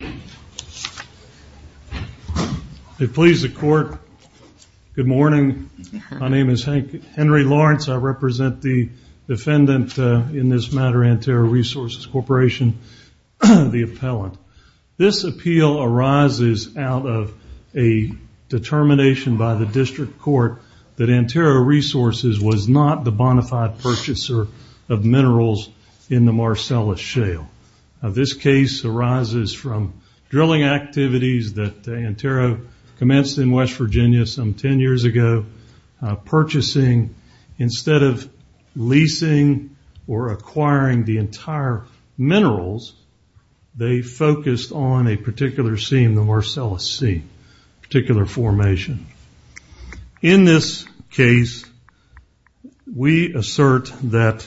Good morning. My name is Henry Lawrence. I represent the defendant in this matter, Antero Resources Corporation, the appellant. This appeal arises out of a determination by the district court that Antero Resources was not the bona fide purchaser of minerals in the Marcellus Shale. This case arises from drilling activities that Antero commenced in West Virginia some 10 years ago. Purchasing, instead of leasing or acquiring the entire minerals, they focused on a particular scene, the Marcellus Sea, a particular formation. In this case, we assert that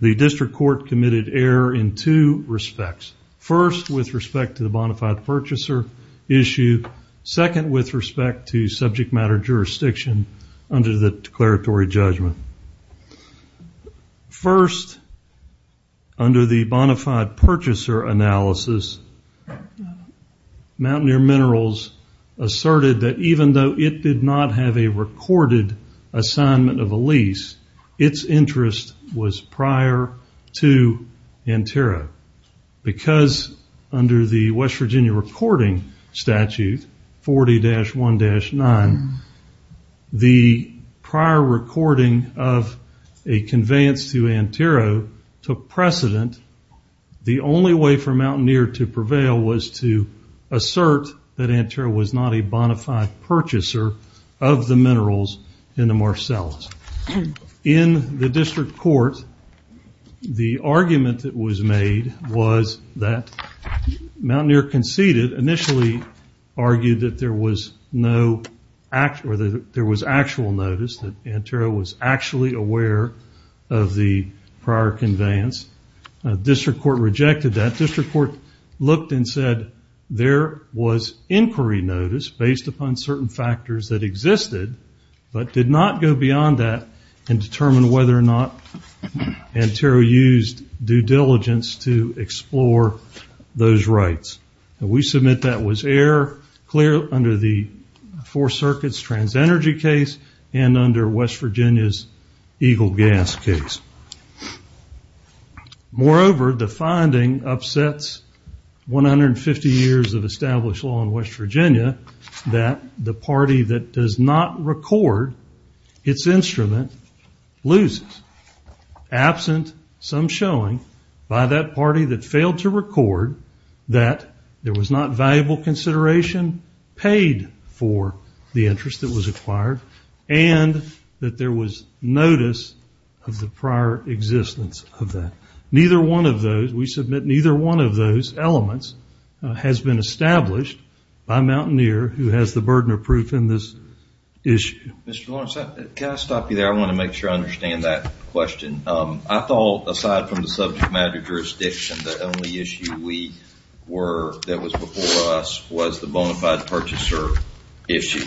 the district court committed error in two respects. First, with respect to the bona fide purchaser issue. Second, with respect to subject matter jurisdiction under the declaratory judgment. First, under the bona fide purchaser analysis, Mountaineer Minerals asserted that even though it did not have a recorded assignment of a lease, its interest was prior to Antero. Because under the West Virginia reporting statute, 40-1-9, the prior recording of a conveyance to Antero took precedent. The only way for Mountaineer to prevail was to assert that Antero was not a bona fide purchaser of the minerals in the Marcellus. In the district court, the argument that was made was that Mountaineer conceded, but initially argued that there was actual notice, that Antero was actually aware of the prior conveyance. District court rejected that. District court looked and said there was inquiry notice based upon certain factors that existed, but did not go beyond that and determine whether or not Antero used due diligence to explore those rights. We submit that was error clear under the Four Circuits trans-energy case and under West Virginia's Eagle Gas case. Moreover, the finding upsets 150 years of established law in West Virginia that the party that does not record its instrument loses. Absent some showing by that party that failed to record that there was not valuable consideration paid for the interest that was acquired, and that there was notice of the prior existence of that. Neither one of those, we submit neither one of those elements has been established by Mountaineer who has the burden of proof in this issue. Mr. Lawrence, can I stop you there? I want to make sure I understand that question. I thought, aside from the subject matter jurisdiction, the only issue that was before us was the bonafide purchaser issue.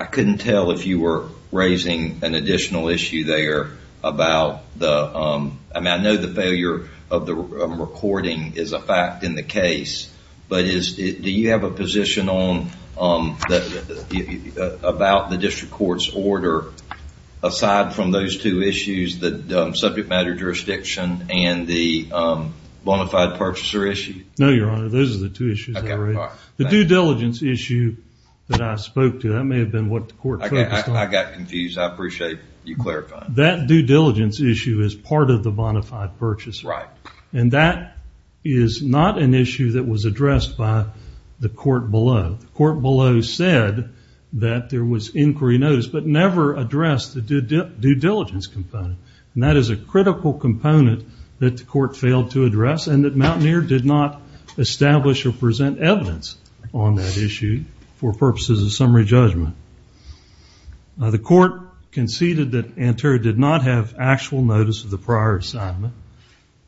I couldn't tell if you were raising an additional issue there about the – aside from those two issues, the subject matter jurisdiction and the bonafide purchaser issue. No, Your Honor. Those are the two issues I raised. The due diligence issue that I spoke to, that may have been what the court focused on. I got confused. I appreciate you clarifying. That due diligence issue is part of the bonafide purchaser. Right. And that is not an issue that was addressed by the court below. The court below said that there was inquiry notice, but never addressed the due diligence component. And that is a critical component that the court failed to address, and that Mountaineer did not establish or present evidence on that issue for purposes of summary judgment. The court conceded that Antero did not have actual notice of the prior assignment.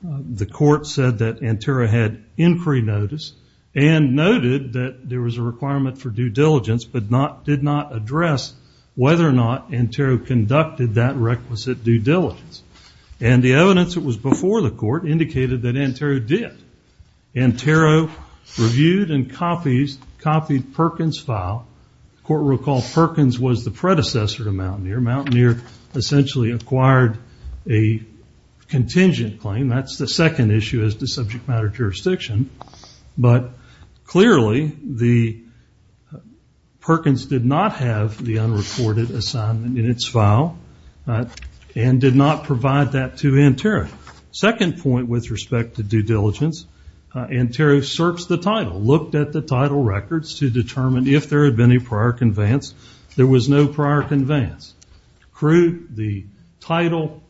The court said that Antero had inquiry notice and noted that there was a requirement for due diligence, but did not address whether or not Antero conducted that requisite due diligence. And the evidence that was before the court indicated that Antero did. Antero reviewed and copied Perkins' file. The court recalled Perkins was the predecessor to Mountaineer. Mountaineer essentially acquired a contingent claim. That's the second issue as to subject matter jurisdiction. But clearly, Perkins did not have the unreported assignment in its file and did not provide that to Antero. Second point with respect to due diligence, Antero searched the title, looked at the title records to determine if there had been a prior conveyance. There was no prior conveyance. The title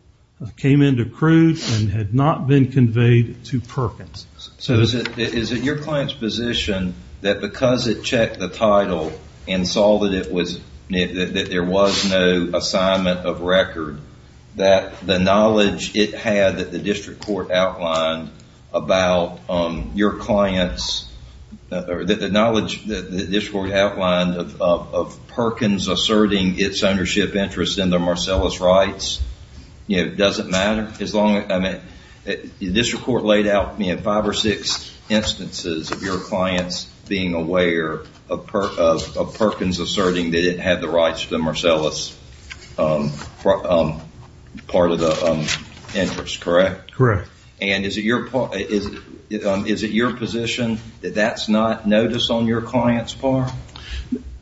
came into crude and had not been conveyed to Perkins. Is it your client's position that because it checked the title and saw that there was no assignment of record, that the knowledge it had that the district court outlined of Perkins asserting its ownership interest in the Marcellus rights? Does it matter? The district court laid out five or six instances of your clients being aware of Perkins asserting that it had the rights to the Marcellus part of the interest, correct? Correct. And is it your position that that's not notice on your client's part?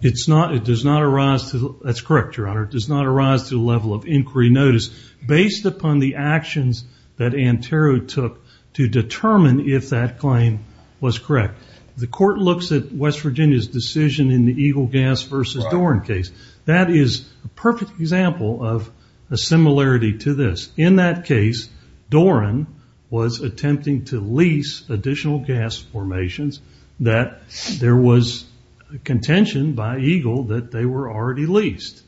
It does not arise to the level of inquiry notice based upon the actions that Antero took to determine if that claim was correct. The court looks at West Virginia's decision in the Eagle Gas versus Doran case. That is a perfect example of a similarity to this. In that case, Doran was attempting to lease additional gas formations that there was contention by Eagle that they were already leased.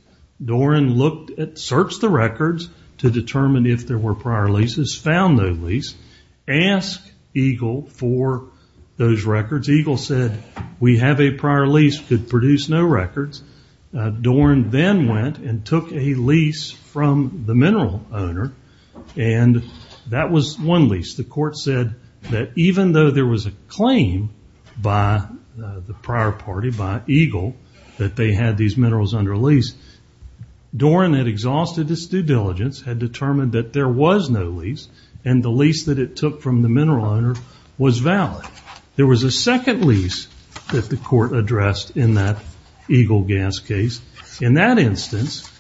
Doran searched the records to determine if there were prior leases, found no lease, asked Eagle for those records. Eagle said, we have a prior lease, could produce no records. Doran then went and took a lease from the mineral owner, and that was one lease. The court said that even though there was a claim by the prior party, by Eagle, that they had these minerals under lease, Doran had exhausted its due diligence, had determined that there was no lease, and the lease that it took from the mineral owner was valid. There was a second lease that the court addressed in that Eagle Gas case. In that instance,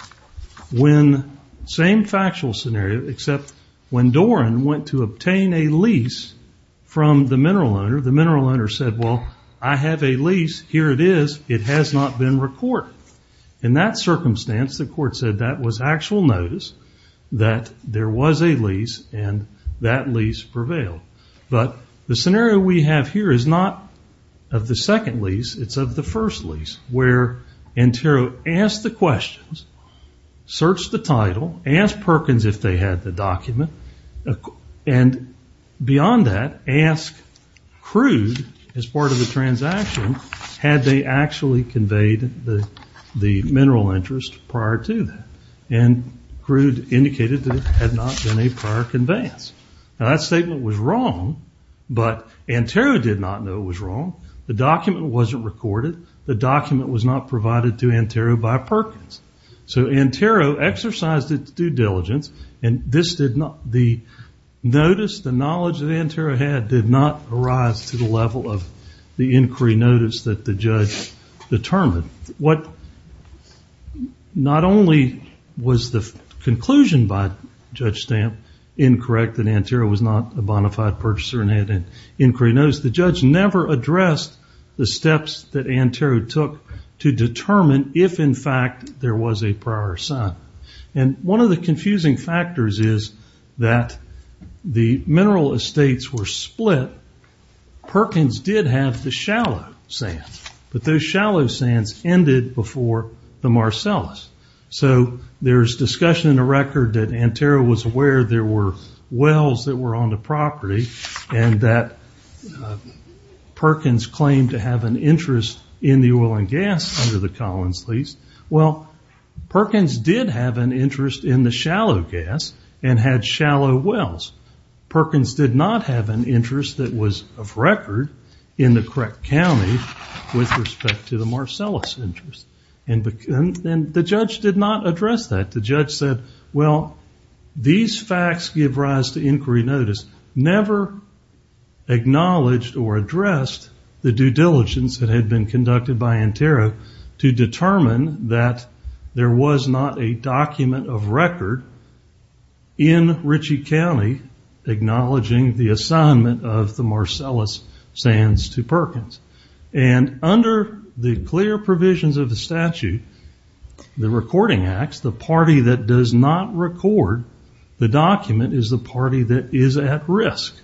same factual scenario, except when Doran went to obtain a lease from the mineral owner, the mineral owner said, well, I have a lease. Here it is. It has not been recorded. In that circumstance, the court said that was actual notice that there was a lease, and that lease prevailed. The scenario we have here is not of the second lease. It's of the first lease, where Antero asked the questions, searched the title, asked Perkins if they had the document, and beyond that, asked Crude, as part of the transaction, had they actually conveyed the mineral interest prior to that. Crude indicated that it had not been a prior conveyance. That statement was wrong, but Antero did not know it was wrong. The document wasn't recorded. The document was not provided to Antero by Perkins. So Antero exercised its due diligence, and the notice, the knowledge that Antero had, did not arise to the level of the inquiry notice that the judge determined. Not only was the conclusion by Judge Stamp incorrect, that Antero was not a bona fide purchaser and had an inquiry notice, the judge never addressed the steps that Antero took to determine if, in fact, there was a prior sign. One of the confusing factors is that the mineral estates were split. Perkins did have the shallow sands, but those shallow sands ended before the Marcellus. So there's discussion in the record that Antero was aware there were wells that were on the property, and that Perkins claimed to have an interest in the oil and gas under the Collins lease. Well, Perkins did have an interest in the shallow gas and had shallow wells. Perkins did not have an interest that was of record in the correct county with respect to the Marcellus interest. The judge did not address that. The judge said, well, these facts give rise to inquiry notice, never acknowledged or addressed the due diligence that had been conducted by Antero to determine that there was not a document of record in Ritchie County acknowledging the assignment of the Marcellus sands to Perkins. And under the clear provisions of the statute, the recording acts, the party that does not record the document is the party that is at risk.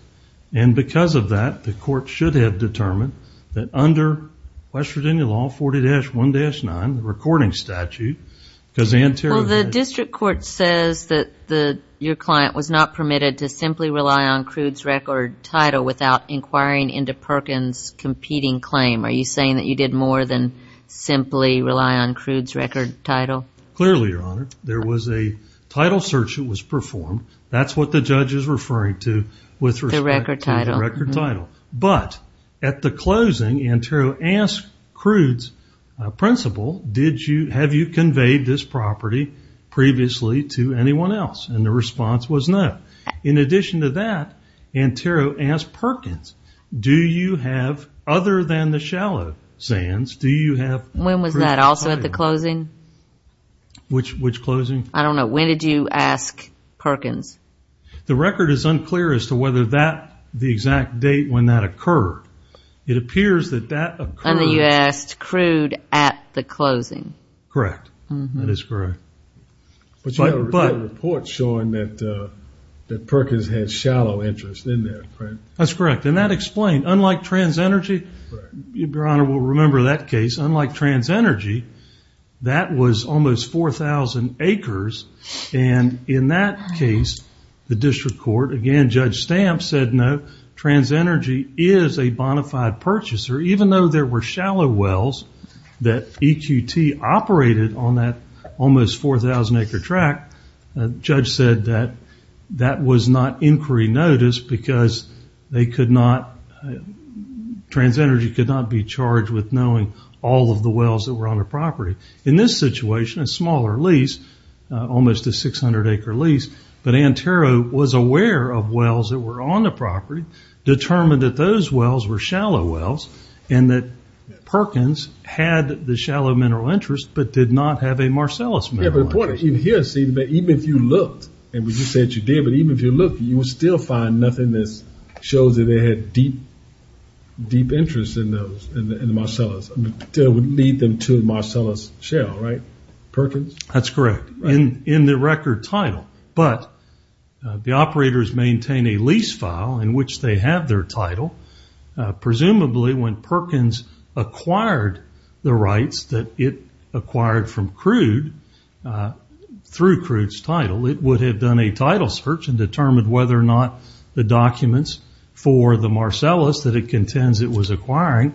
And because of that, the court should have determined that under West Virginia Law 40-1-9, the recording statute, because Antero... Well, the district court says that your client was not permitted to simply rely on Crude's record title without inquiring into Perkins' competing claim. Are you saying that you did more than simply rely on Crude's record title? Clearly, Your Honor. There was a title search that was performed. That's what the judge is referring to with respect to the record title. But at the closing, Antero asked Crude's principal, have you conveyed this property previously to anyone else? And the response was no. In addition to that, Antero asked Perkins, do you have, other than the shallow sands, do you have... When was that, also at the closing? Which closing? I don't know. When did you ask Perkins? The record is unclear as to whether that, the exact date when that occurred. It appears that that occurred... And then you asked Crude at the closing. Correct. That is correct. But you had a report showing that Perkins had shallow interest in that, right? That's correct. And that explained, unlike TransEnergy, Your Honor will remember that case, unlike TransEnergy, that was almost 4,000 acres. And in that case, the district court, again, Judge Stamp said no, TransEnergy is a bonafide purchaser, even though there were shallow wells that EQT operated on that almost 4,000-acre track, Judge said that that was not inquiry notice because they could not, TransEnergy could not be charged with knowing all of the wells that were on the property. In this situation, a smaller lease, almost a 600-acre lease, but Antero was aware of wells that were on the property, determined that those wells were shallow wells, and that Perkins had the shallow mineral interest, but did not have a Marcellus mineral interest. Yeah, but the point is, even here, see, even if you looked, and you said you did, but even if you looked, you would still find nothing that shows that they had deep, deep interest in those, in the Marcellus. That would lead them to Marcellus Shell, right? Perkins? That's correct, in the record title. But the operators maintain a lease file in which they have their title. Presumably, when Perkins acquired the rights that it acquired from Crude, through Crude's title, it would have done a title search and determined whether or not the documents for the Marcellus that it contends it was acquiring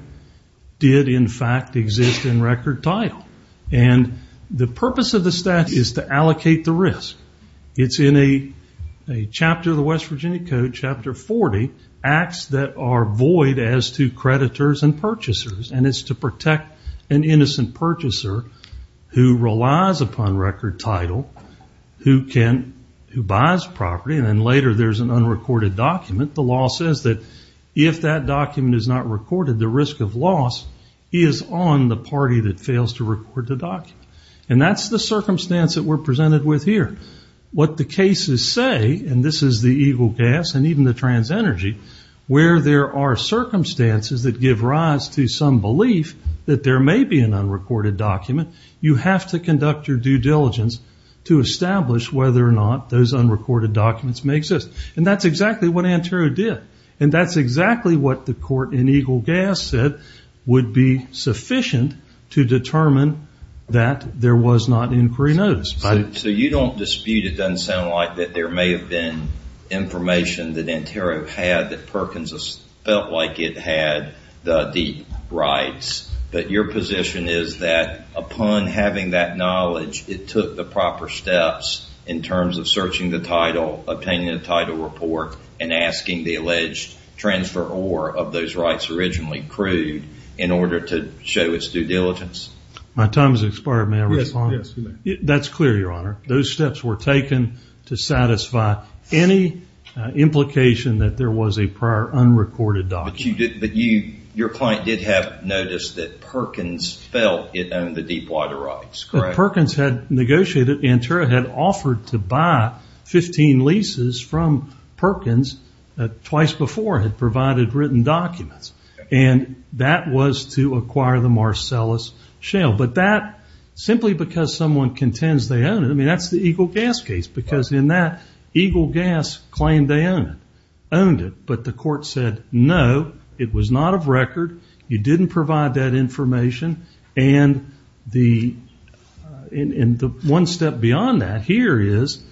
did, in fact, exist in record title. The purpose of the statute is to allocate the risk. It's in a chapter of the West Virginia Code, Chapter 40, acts that are void as to creditors and purchasers, and it's to protect an innocent purchaser who relies upon record title, who buys property, and then later there's an unrecorded document. The law says that if that document is not recorded, the risk of loss is on the party that fails to record the document, and that's the circumstance that we're presented with here. What the cases say, and this is the Eagle Gas and even the TransEnergy, where there are circumstances that give rise to some belief that there may be an unrecorded document, you have to conduct your due diligence to establish whether or not those unrecorded documents may exist, and that's exactly what Antero did, and that's exactly what the court in Eagle Gas said would be sufficient to determine that there was not inquiry notice. So you don't dispute, it doesn't sound like, that there may have been information that Antero had that Perkins felt like it had the rights, but your position is that upon having that knowledge, it took the proper steps in terms of searching the title, obtaining the title report, and asking the alleged transferor of those rights originally accrued in order to show its due diligence. My time has expired, may I respond? Yes, you may. That's clear, Your Honor. Those steps were taken to satisfy any implication that there was a prior unrecorded document. But your client did have notice that Perkins felt it owned the deepwater rights, correct? Yes, Perkins had negotiated, Antero had offered to buy 15 leases from Perkins, twice before had provided written documents, and that was to acquire the Marcellus Shale. But that, simply because someone contends they own it, I mean that's the Eagle Gas case, because in that, Eagle Gas claimed they owned it, but the court said no, it was not of record, you didn't provide that information, and the one step beyond that here is,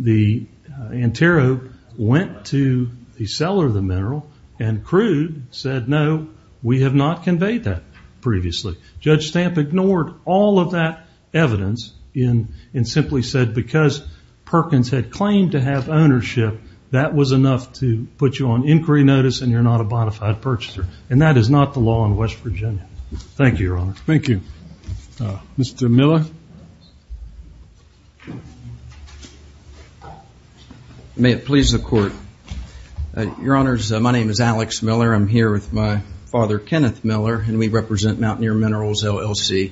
Antero went to the seller of the mineral and crude, said no, we have not conveyed that previously. Judge Stamp ignored all of that evidence and simply said because Perkins had claimed to have ownership, that was enough to put you on inquiry notice and you're not a bona fide purchaser, and that is not the law in West Virginia. Thank you, Your Honor. Thank you. Mr. Miller. May it please the court. Your Honors, my name is Alex Miller, I'm here with my father, Kenneth Miller, and we represent Mountaineer Minerals, LLC.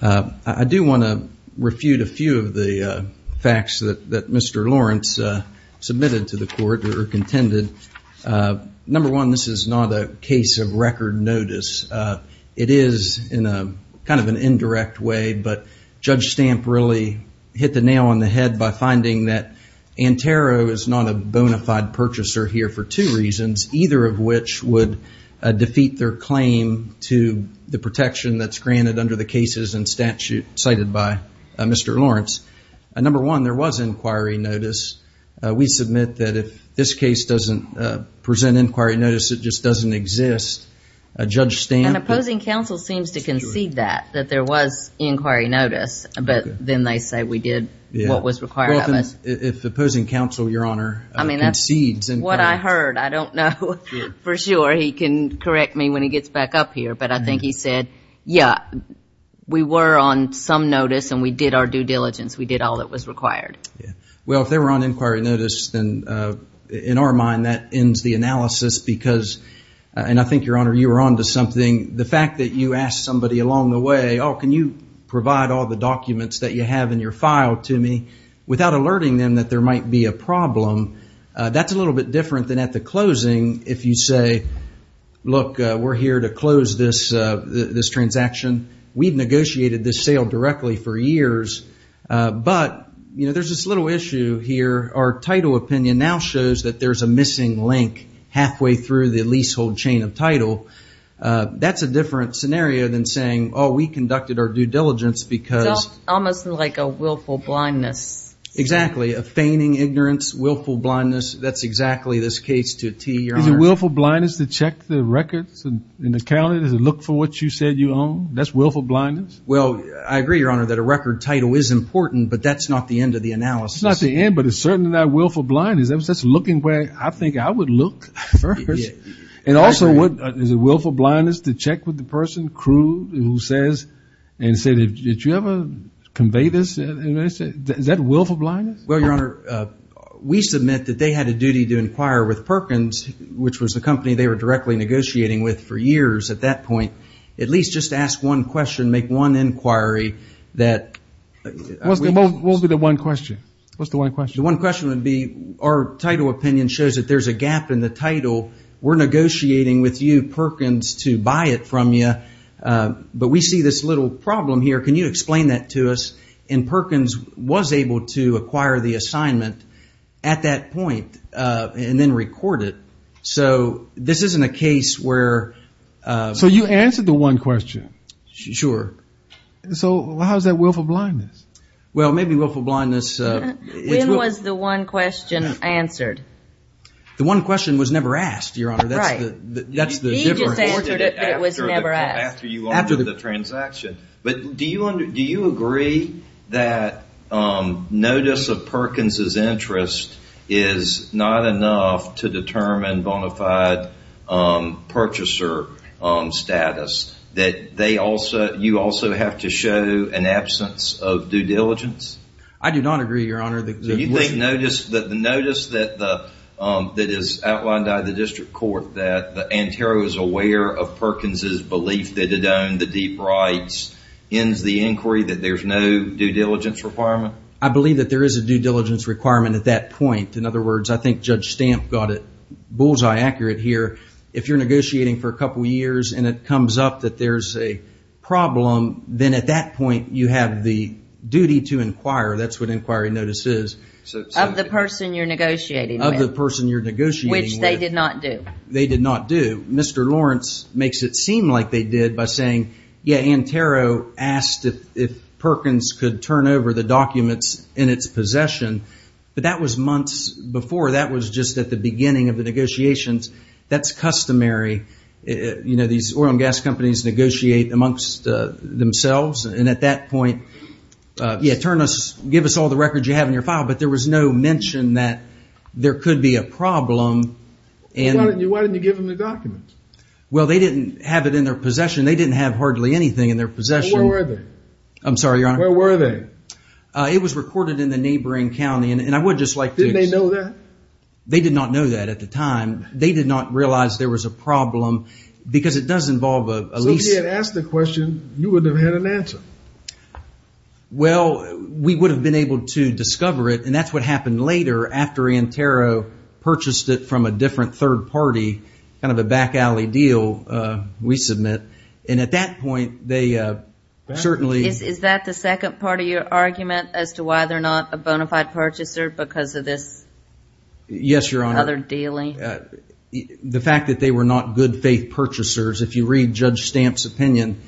I do want to refute a few of the facts that Mr. Lawrence submitted to the court, or contended. Number one, this is not a case of record notice. It is in kind of an indirect way, but Judge Stamp really hit the nail on the head by finding that Antero is not a bona fide purchaser here for two reasons, either of which would defeat their claim to the protection that's granted under the cases and statute cited by Mr. Lawrence. Number one, there was inquiry notice. We submit that if this case doesn't present inquiry notice, it just doesn't exist, Judge Stamp... And opposing counsel seems to concede that, that there was inquiry notice, but then they say we did what was required of us. Well, if opposing counsel, Your Honor, concedes inquiry... I mean, that's what I heard. I don't know for sure. He can correct me when he gets back up here, but I think he said, yeah, we were on some notice and we did our due diligence. We did all that was required. Well, if they were on inquiry notice, then in our mind that ends the analysis because... And I think, Your Honor, you were on to something. The fact that you asked somebody along the way, oh, can you provide all the documents that you have in your file to me without alerting them that there might be a problem, that's a little bit different than at the closing if you say, look, we're here to close this transaction. We've negotiated this sale directly for years, but there's this little issue here. Our title opinion now shows that there's a missing link halfway through the leasehold chain of title. That's a different scenario than saying, oh, we conducted our due diligence because... It's almost like a willful blindness. Exactly, a feigning ignorance, willful blindness. That's exactly this case to a T, Your Honor. Is it willful blindness to check the records and account it? Is it look for what you said you own? That's willful blindness? Well, I agree, Your Honor, that a record title is important, but that's not the end of the analysis. It's not the end, but it's certainly not willful blindness. That's looking where I think I would look first. And also, is it willful blindness to check with the person, crew, who says and said, did you ever convey this? Is that willful blindness? Well, Your Honor, we submit that they had a duty to inquire with Perkins, which was the company they were directly negotiating with for years at that point, at least just ask one question, make one inquiry that... What would be the one question? What's the one question? The one question would be our title opinion shows that there's a gap in the title. We're negotiating with you, Perkins, to buy it from you, but we see this little problem here. Can you explain that to us? And Perkins was able to acquire the assignment at that point and then record it. So this isn't a case where... So you answered the one question. Sure. So how's that willful blindness? Well, maybe willful blindness... When was the one question answered? The one question was never asked, Your Honor. Right. He just answered it, but it was never asked. After you ordered the transaction. But do you agree that notice of Perkins' interest is not enough to determine bona fide purchaser status, that you also have to show an absence of due diligence? I do not agree, Your Honor. So you think the notice that is outlined by the district court, that Antero is aware of Perkins' belief that it owned the deep rights, ends the inquiry, that there's no due diligence requirement? I believe that there is a due diligence requirement at that point. In other words, I think Judge Stamp got it bullseye accurate here. If you're negotiating for a couple of years and it comes up that there's a problem, then at that point you have the duty to inquire. That's what inquiry notice is. Of the person you're negotiating with. Of the person you're negotiating with. Which they did not do. They did not do. Mr. Lawrence makes it seem like they did by saying, yeah, Antero asked if Perkins could turn over the documents in its possession, but that was months before. That was just at the beginning of the negotiations. That's customary. You know, these oil and gas companies negotiate amongst themselves. And at that point, yeah, turn us, give us all the records you have in your file. But there was no mention that there could be a problem. Why didn't you give them the documents? Well, they didn't have it in their possession. They didn't have hardly anything in their possession. Where were they? I'm sorry, Your Honor. Where were they? It was recorded in the neighboring county. And I would just like to. Didn't they know that? They did not know that at the time. They did not realize there was a problem because it does involve a lease. So if you had asked the question, you would have had an answer. Well, we would have been able to discover it, and that's what happened later after Antero purchased it from a different third party, kind of a back alley deal, we submit. And at that point, they certainly. Is that the second part of your argument as to why they're not a bona fide purchaser because of this? Yes, Your Honor. Other dealing? The fact that they were not good faith purchasers, if you read Judge Stamp's opinion,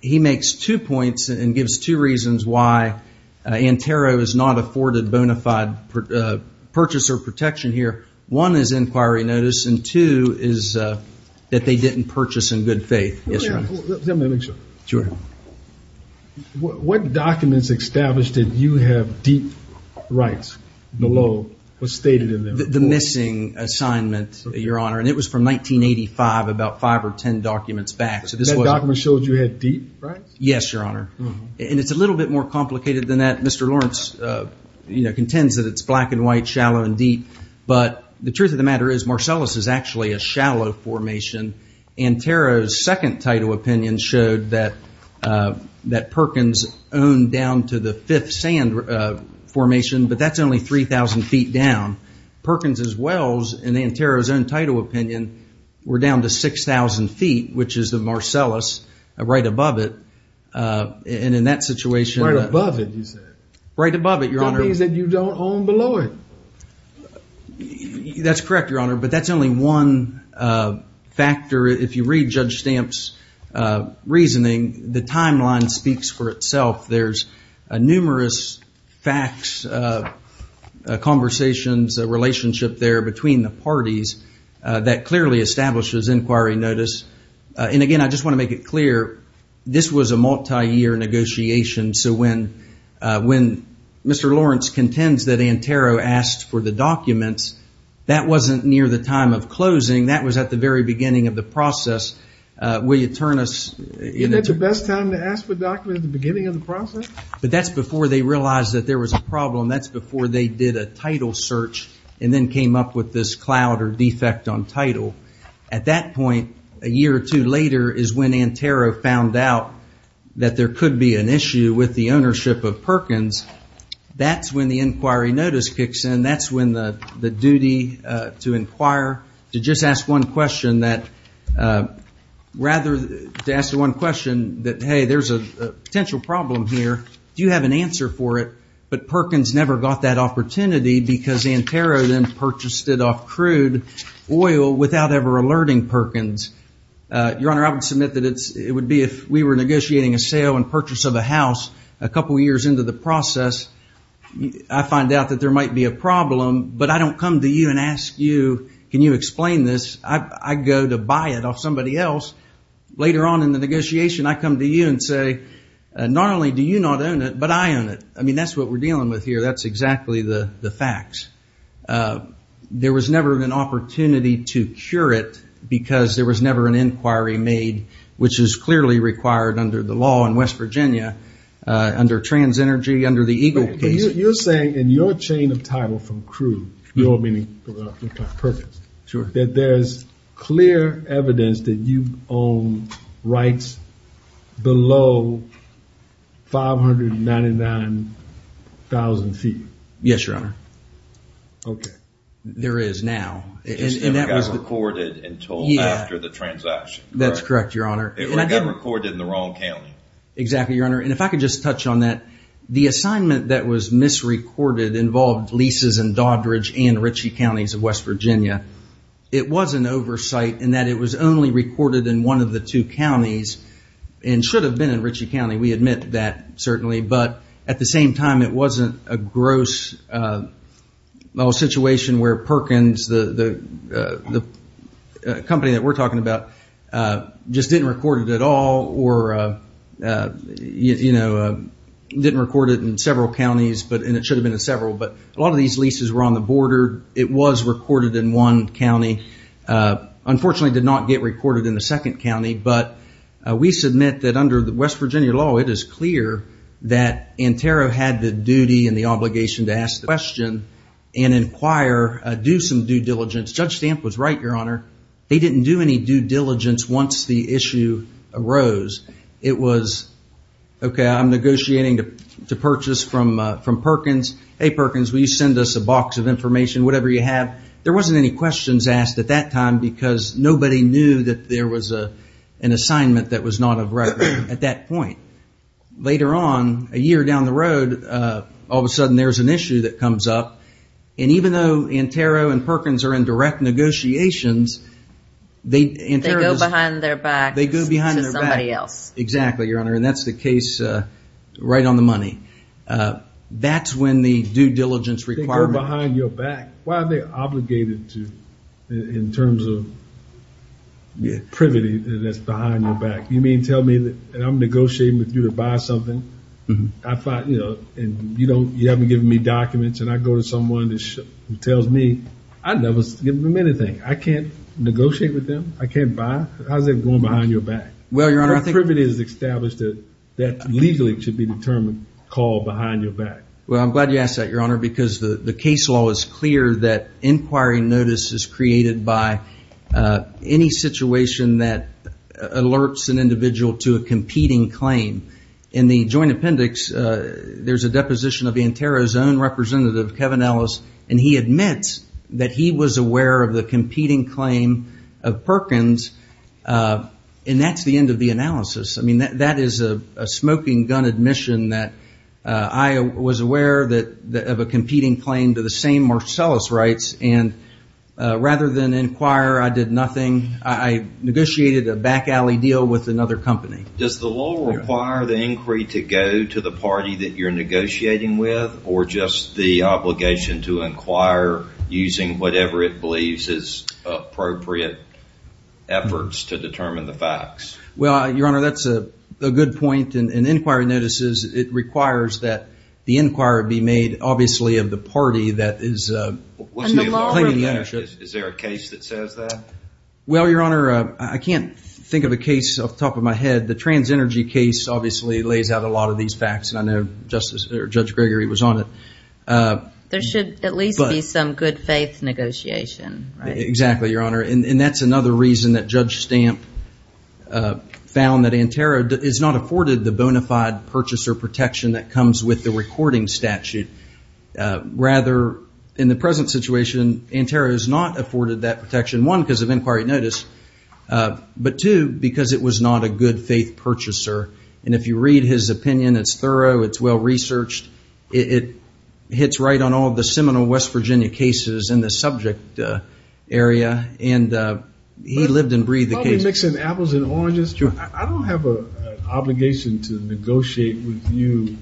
he makes two points and gives two reasons why Antero is not afforded bona fide purchaser protection here. One is inquiry notice, and two is that they didn't purchase in good faith. Yes, Your Honor. Let me make sure. What documents establish that you have deep rights below what's stated in them? The missing assignment, Your Honor. And it was from 1985, about five or ten documents back. That document shows you had deep rights? Yes, Your Honor. And it's a little bit more complicated than that. Mr. Lawrence contends that it's black and white, shallow and deep, but the truth of the matter is Marcellus is actually a shallow formation, and Antero's second title opinion showed that Perkins owned down to the fifth sand formation, but that's only 3,000 feet down. Perkins' wells, in Antero's own title opinion, were down to 6,000 feet, which is the Marcellus right above it. Right above it, you said? Right above it, Your Honor. That means that you don't own below it. That's correct, Your Honor, but that's only one factor. If you read Judge Stamp's reasoning, the timeline speaks for itself. There's numerous facts, conversations, a relationship there between the parties that clearly establishes inquiry notice. And, again, I just want to make it clear, this was a multi-year negotiation, so when Mr. Lawrence contends that Antero asked for the documents, that wasn't near the time of closing. That was at the very beginning of the process. Will you turn us in? Isn't that the best time to ask for a document at the beginning of the process? But that's before they realized that there was a problem. That's before they did a title search and then came up with this cloud or defect on title. At that point, a year or two later, is when Antero found out that there could be an issue with the ownership of Perkins. That's when the inquiry notice kicks in. That's when the duty to inquire, to just ask one question that, rather than to ask one question that, hey, there's a potential problem here, do you have an answer for it? But Perkins never got that opportunity because Antero then purchased it off crude oil without ever alerting Perkins. Your Honor, I would submit that it would be if we were negotiating a sale and purchase of a house a couple years into the process. I find out that there might be a problem, but I don't come to you and ask you, can you explain this? I go to buy it off somebody else. Later on in the negotiation, I come to you and say, not only do you not own it, but I own it. I mean, that's what we're dealing with here. That's exactly the facts. There was never an opportunity to cure it because there was never an inquiry made, which is clearly required under the law in West Virginia, under Trans Energy, under the Eagle case. You're saying in your chain of title from crude, your meaning, Perkins, that there's clear evidence that you own rights below 599,000 feet. Yes, Your Honor. Okay. There is now. And that was recorded until after the transaction. That's correct, Your Honor. It got recorded in the wrong county. Exactly, Your Honor. And if I could just touch on that, the assignment that was misrecorded involved leases in Doddridge and Ritchie counties of West Virginia. It was an oversight in that it was only recorded in one of the two counties and should have been in Ritchie County. We admit that, certainly. But at the same time, it wasn't a gross situation where Perkins, the company that we're talking about, just didn't record it at all. Or didn't record it in several counties, and it should have been in several. But a lot of these leases were on the border. It was recorded in one county. Unfortunately, it did not get recorded in the second county. But we submit that under the West Virginia law, it is clear that Antero had the duty and the obligation to ask the question and inquire, do some due diligence. Judge Stamp was right, Your Honor. They didn't do any due diligence once the issue arose. It was, okay, I'm negotiating to purchase from Perkins. Hey, Perkins, will you send us a box of information, whatever you have. There wasn't any questions asked at that time because nobody knew that there was an assignment that was not of record at that point. Later on, a year down the road, all of a sudden there's an issue that comes up. And even though Antero and Perkins are in direct negotiations, they go behind their back to somebody else. Exactly, Your Honor. And that's the case right on the money. That's when the due diligence requirement. They go behind your back. Why are they obligated to, in terms of privity, that's behind their back? You mean tell me that I'm negotiating with you to buy something? And you haven't given me documents, and I go to someone who tells me, I never give them anything. I can't negotiate with them? I can't buy? How's that going behind your back? Well, Your Honor, I think— Privity is established that legally it should be determined, called behind your back. Well, I'm glad you asked that, Your Honor, because the case law is clear that inquiry notice is created by any situation that alerts an individual to a competing claim. In the joint appendix, there's a deposition of Antero's own representative, Kevin Ellis, and he admits that he was aware of the competing claim of Perkins, and that's the end of the analysis. I mean, that is a smoking gun admission that I was aware of a competing claim to the same Marcellus rights, and rather than inquire, I did nothing. I negotiated a back alley deal with another company. Does the law require the inquiry to go to the party that you're negotiating with, or just the obligation to inquire using whatever it believes is appropriate efforts to determine the facts? Well, Your Honor, that's a good point. In inquiry notices, it requires that the inquiry be made, obviously, of the party that is claiming the ownership. Is there a case that says that? Well, Your Honor, I can't think of a case off the top of my head. The TransEnergy case obviously lays out a lot of these facts, and I know Judge Gregory was on it. There should at least be some good faith negotiation, right? Exactly, Your Honor, and that's another reason that Judge Stamp found that Antero is not afforded the bona fide purchaser protection that comes with the recording statute. Rather, in the present situation, Antero is not afforded that protection, one, because of inquiry notice, but two, because it was not a good faith purchaser. And if you read his opinion, it's thorough, it's well-researched, it hits right on all the seminal West Virginia cases in the subject area, and he lived and breathed the case. I'll be mixing apples and oranges. I don't have an obligation to negotiate with you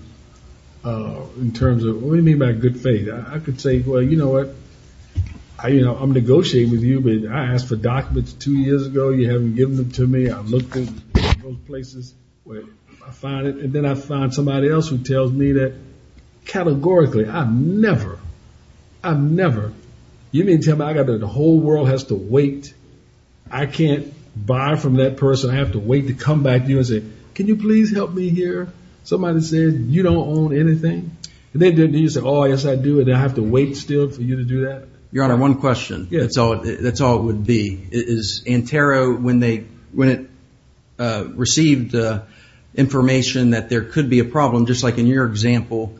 in terms of, what do you mean by good faith? I could say, well, you know what, I'm negotiating with you, but I asked for documents two years ago. You haven't given them to me. I looked in both places where I found it, and then I found somebody else who tells me that categorically, I never, I never. You mean to tell me I've got to, the whole world has to wait. I can't buy from that person. I have to wait to come back to you and say, can you please help me here? Somebody says, you don't own anything. And then you say, oh, yes, I do, and I have to wait still for you to do that? Your Honor, one question. That's all it would be. Is Antero, when it received information that there could be a problem, just like in your example,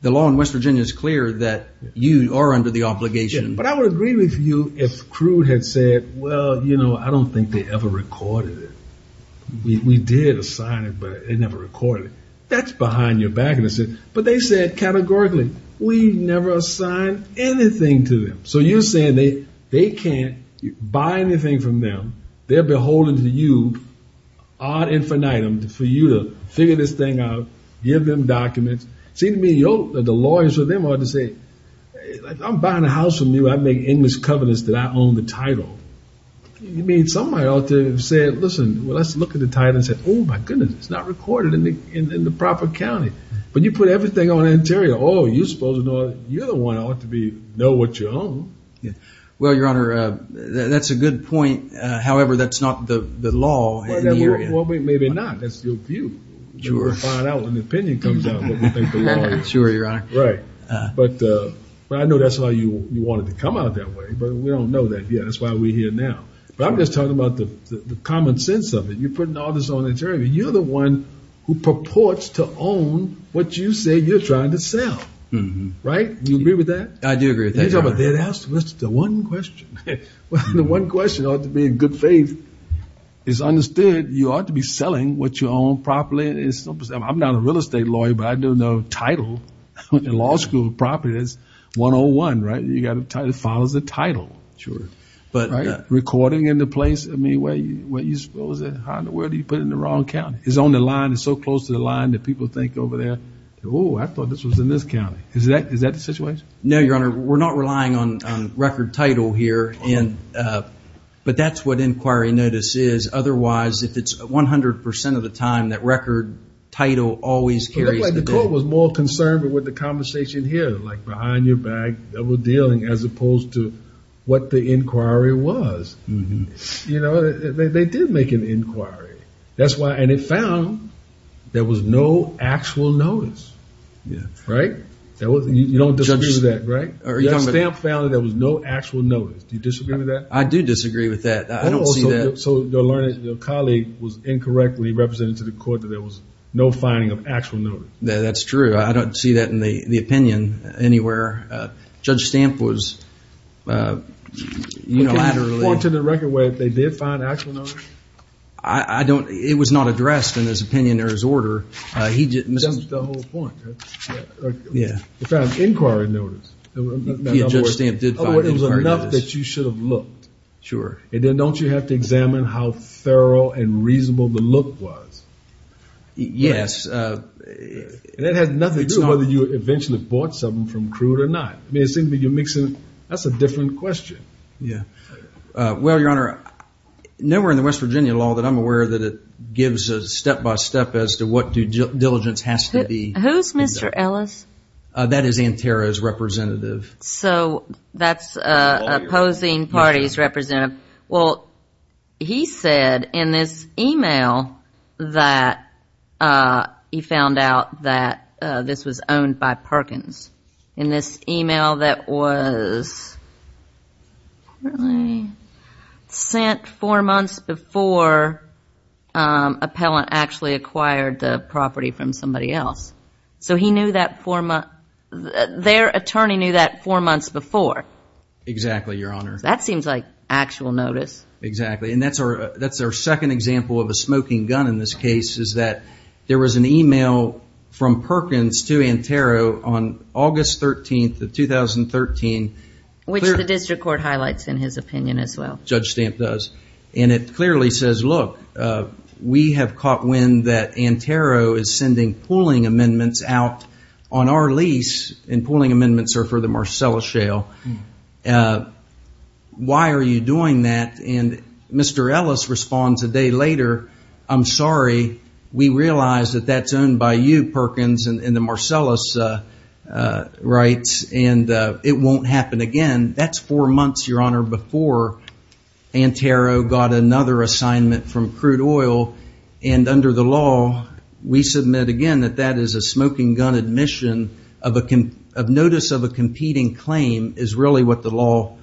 the law in West Virginia is clear that you are under the obligation. But I would agree with you if Crude had said, well, you know, I don't think they ever recorded it. We did assign it, but they never recorded it. That's behind your back. But they said categorically, we never assigned anything to them. So you're saying they can't buy anything from them. They're beholden to you ad infinitum for you to figure this thing out, give them documents. It seems to me the lawyers with them ought to say, I'm buying a house from you. I make English covenants that I own the title. You mean somebody ought to have said, listen, let's look at the title and say, oh, my goodness, it's not recorded in the proper county. But you put everything on Antero. Oh, you're the one ought to know what you own. Well, Your Honor, that's a good point. However, that's not the law in the area. Well, maybe not. That's your view. We'll find out when the opinion comes out what we think the law is. Sure, Your Honor. Right. But I know that's why you wanted to come out that way. But we don't know that yet. That's why we're here now. But I'm just talking about the common sense of it. You're putting all this on Antero. You're the one who purports to own what you say you're trying to sell. Right? Do you agree with that? I do agree. Thank you, Your Honor. That's the one question. The one question ought to be in good faith. It's understood you ought to be selling what you own properly. I'm not a real estate lawyer, but I do know title in law school property is 101. Right? It follows the title. Sure. Recording in the place? I mean, where do you put it in the wrong county? It's on the line. It's so close to the line that people think over there, oh, I thought this was in this county. Is that the situation? No, Your Honor. We're not relying on record title here. But that's what inquiry notice is. Otherwise, if it's 100% of the time, that record title always carries the date. It looks like the court was more concerned with the conversation here, like behind your back, double dealing, as opposed to what the inquiry was. They did make an inquiry. That's why. And it found there was no actual notice. Right? You don't disagree with that, right? That stamp found that there was no actual notice. Do you disagree with that? I do disagree with that. I don't see that. So your colleague was incorrectly representing to the court that there was no finding of actual notice. That's true. I don't see that in the opinion anywhere. Judge Stamp was unilaterally. Point to the record where they did find actual notice? I don't. It was not addressed in his opinion or his order. That's the whole point, right? Yeah. In fact, inquiry notice. Judge Stamp did find inquiry notice. Otherwise, it was enough that you should have looked. Sure. And then don't you have to examine how thorough and reasonable the look was? Yes. It had nothing to do with whether you eventually bought something from Crude or not. That's a different question. Yeah. Well, Your Honor, nowhere in the West Virginia law that I'm aware that it gives a step-by-step as to what due diligence has to be. Who's Mr. Ellis? That is Antero's representative. So that's opposing party's representative. Well, he said in this e-mail that he found out that this was owned by Perkins. In this e-mail that was sent four months before an appellant actually acquired the property from somebody else. So he knew that four months. Their attorney knew that four months before. Exactly, Your Honor. That seems like actual notice. Exactly. And that's our second example of a smoking gun in this case is that there was an e-mail from Perkins to Antero on August 13th of 2013. Which the district court highlights in his opinion as well. Judge Stamp does. And it clearly says, look, we have caught wind that Antero is sending pooling amendments out on our lease, and pooling amendments are for the Why are you doing that? And Mr. Ellis responds a day later, I'm sorry. We realize that that's owned by you, Perkins, and the Marcellus rights. And it won't happen again. That's four months, Your Honor, before Antero got another assignment from crude oil, and under the law, we submit again that that is a smoking gun admission of notice of a competing claim is really what the law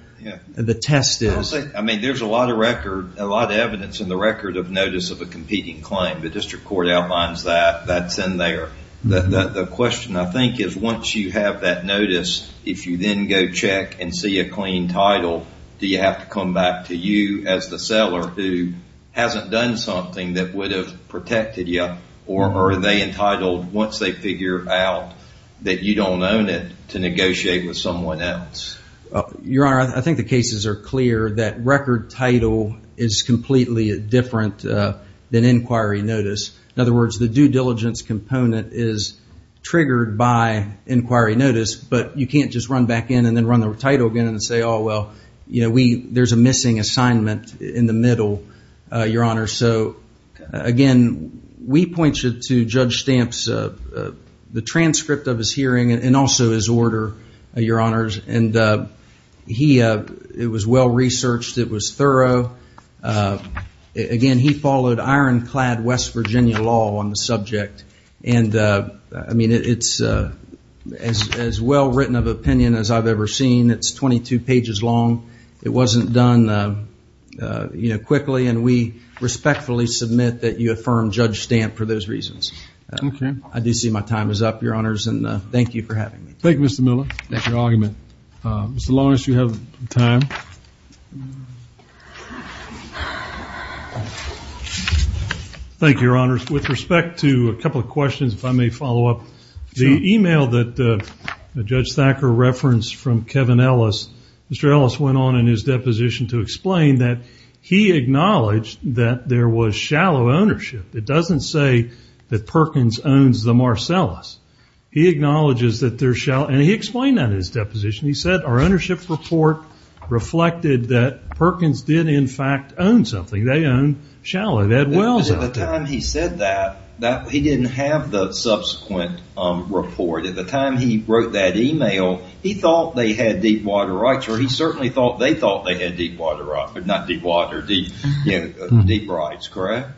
the test is. I mean, there's a lot of record, a lot of evidence in the record of notice of a competing claim. The district court outlines that. That's in there. The question, I think, is once you have that notice, if you then go check and see a clean title, do you have to come back to you as the seller who hasn't done something that would have protected you? Or are they entitled, once they figure out that you don't own it, to negotiate with someone else? Your Honor, I think the cases are clear that record title is completely different than inquiry notice. In other words, the due diligence component is triggered by inquiry notice, but you can't just run back in and then run the title again and say, oh, well, there's a missing assignment in the middle, Your Honor. So, again, we point you to Judge Stamp's transcript of his hearing and also his order, Your Honors. It was well researched. It was thorough. Again, he followed ironclad West Virginia law on the subject. I mean, it's as well written of opinion as I've ever seen. It's 22 pages long. It wasn't done quickly, and we respectfully submit that you affirm Judge Stamp for those reasons. I do see my time is up, Your Honors, and thank you for having me. Thank you, Mr. Miller. That's your argument, as long as you have time. Thank you, Your Honors. With respect to a couple of questions, if I may follow up. The email that Judge Thacker referenced from Kevin Ellis, Mr. Ellis went on in his deposition to explain that he acknowledged that there was shallow ownership. It doesn't say that Perkins owns the Marcellus. He acknowledges that there's shallow, and he explained that in his deposition. He said our ownership report reflected that Perkins did, in fact, own something. They own shallow. The time he said that, he didn't have the subsequent report. At the time he wrote that email, he thought they had deep water rights, or he certainly thought they thought they had deep water rights, but not deep water, deep rights, correct?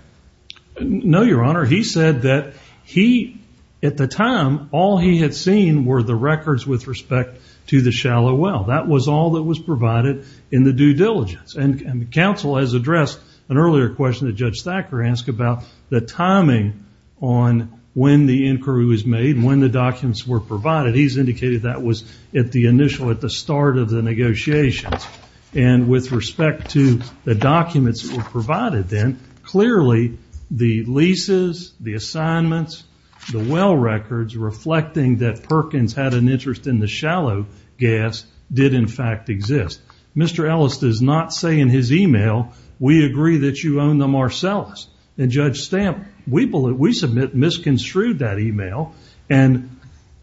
No, Your Honor. He said that he, at the time, all he had seen were the records with respect to the shallow well. That was all that was provided in the due diligence. And counsel has addressed an earlier question that Judge Thacker asked about the timing on when the inquiry was made and when the documents were provided. He's indicated that was at the initial, at the start of the negotiations. And with respect to the documents that were provided then, clearly the leases, the assignments, the well records, reflecting that Perkins had an interest in the shallow gas did, in fact, exist. Mr. Ellis does not say in his email, we agree that you own the Marcellus. And Judge Stamp, we submit misconstrued that email and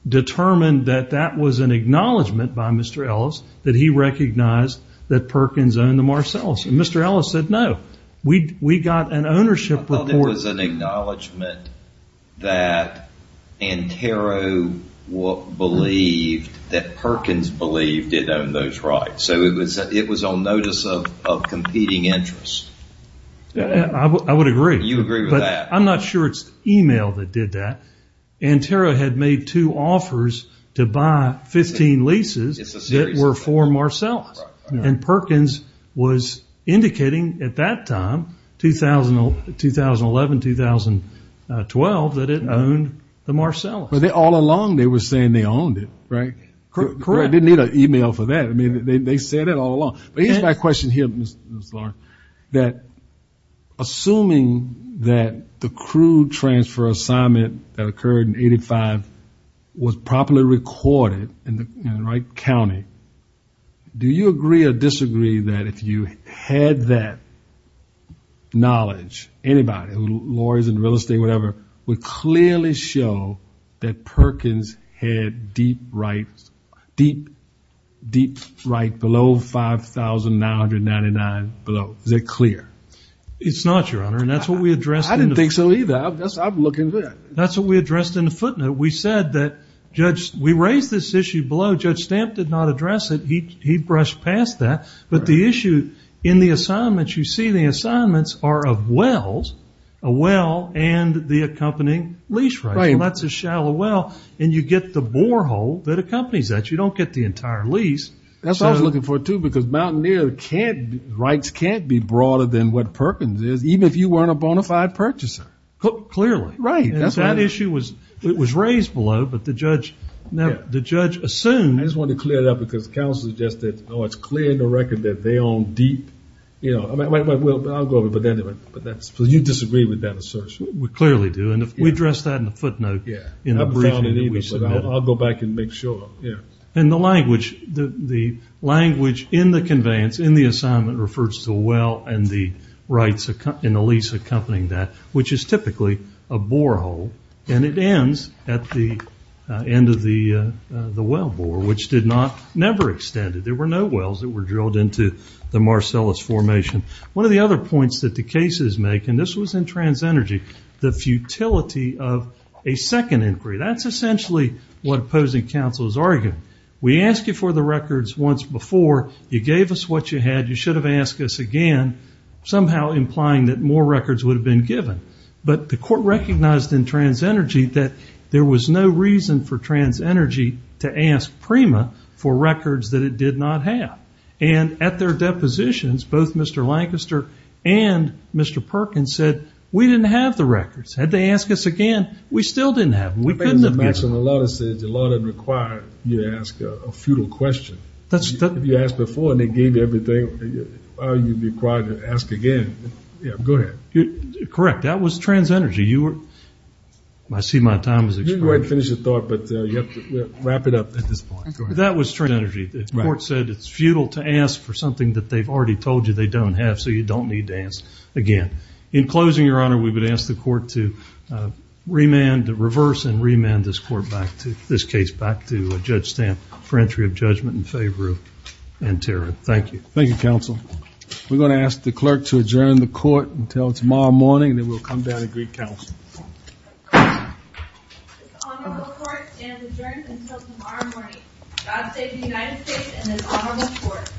determined that that was an acknowledgment by Mr. Ellis that he recognized that Perkins owned the Marcellus. And Mr. Ellis said, no, we got an ownership report. I thought it was an acknowledgment that Antero believed, that Perkins believed it owned those rights. So it was on notice of competing interest. I would agree. You agree with that? I'm not sure it's the email that did that. Antero had made two offers to buy 15 leases that were for Marcellus. And Perkins was indicating at that time, 2011, 2012, that it owned the Marcellus. But all along they were saying they owned it, right? Correct. They didn't need an email for that. I mean, they said it all along. But here's my question here, Mr. Lawrence, that assuming that the crew transfer assignment that occurred in 85 was properly recorded in the right county, do you agree or disagree that if you had that knowledge, anybody, lawyers in real estate, whatever, would clearly show that Perkins had deep rights, deep rights below $5,999 below? Is that clear? It's not, Your Honor, and that's what we addressed. I didn't think so either. I'm looking at it. That's what we addressed in the footnote. We said that we raised this issue below. Judge Stamp did not address it. He brushed past that. But the issue in the assignments, you see the assignments are of wells, a well and the accompanying lease rights. And that's a shallow well. And you get the borehole that accompanies that. You don't get the entire lease. That's what I was looking for, too, because mountaineer rights can't be broader than what Perkins is, even if you weren't a bona fide purchaser. Clearly. Right. That issue was raised below. But the judge assumed. I just wanted to clear it up because counsel suggested, oh, it's clear in the record that they own deep. I'll go over it, but anyway. So you disagree with that assertion? We clearly do. And we addressed that in the footnote in the briefing that we submitted. I'll go back and make sure. And the language in the conveyance, in the assignment, refers to a well and the rights and the lease accompanying that, which is typically a borehole. And it ends at the end of the well bore, which never extended. There were no wells that were drilled into the Marcellus Formation. One of the other points that the cases make, and this was in TransEnergy, the futility of a second inquiry. That's essentially what opposing counsel is arguing. We asked you for the records once before. You gave us what you had. You should have asked us again, somehow implying that more records would have been given. But the court recognized in TransEnergy that there was no reason for TransEnergy to ask PREMA for records that it did not have. And at their depositions, both Mr. Lancaster and Mr. Perkins said, we didn't have the records. Had they asked us again, we still didn't have them. The law doesn't require you to ask a futile question. You asked before and they gave you everything. Why are you required to ask again? Yeah, go ahead. Correct. That was TransEnergy. I see my time has expired. You can go ahead and finish your thought, but you have to wrap it up at this point. That was TransEnergy. The court said it's futile to ask for something that they've already told you they don't have, so you don't need to ask again. In closing, Your Honor, we would ask the court to reverse and remand this case back to Judge Stamp for entry of judgment in favor of Nterrah. Thank you. Thank you, counsel. We're going to ask the clerk to adjourn the court until tomorrow morning, and then we'll come down and greet counsel. This honorable court stands adjourned until tomorrow morning. God save the United States and this honorable court.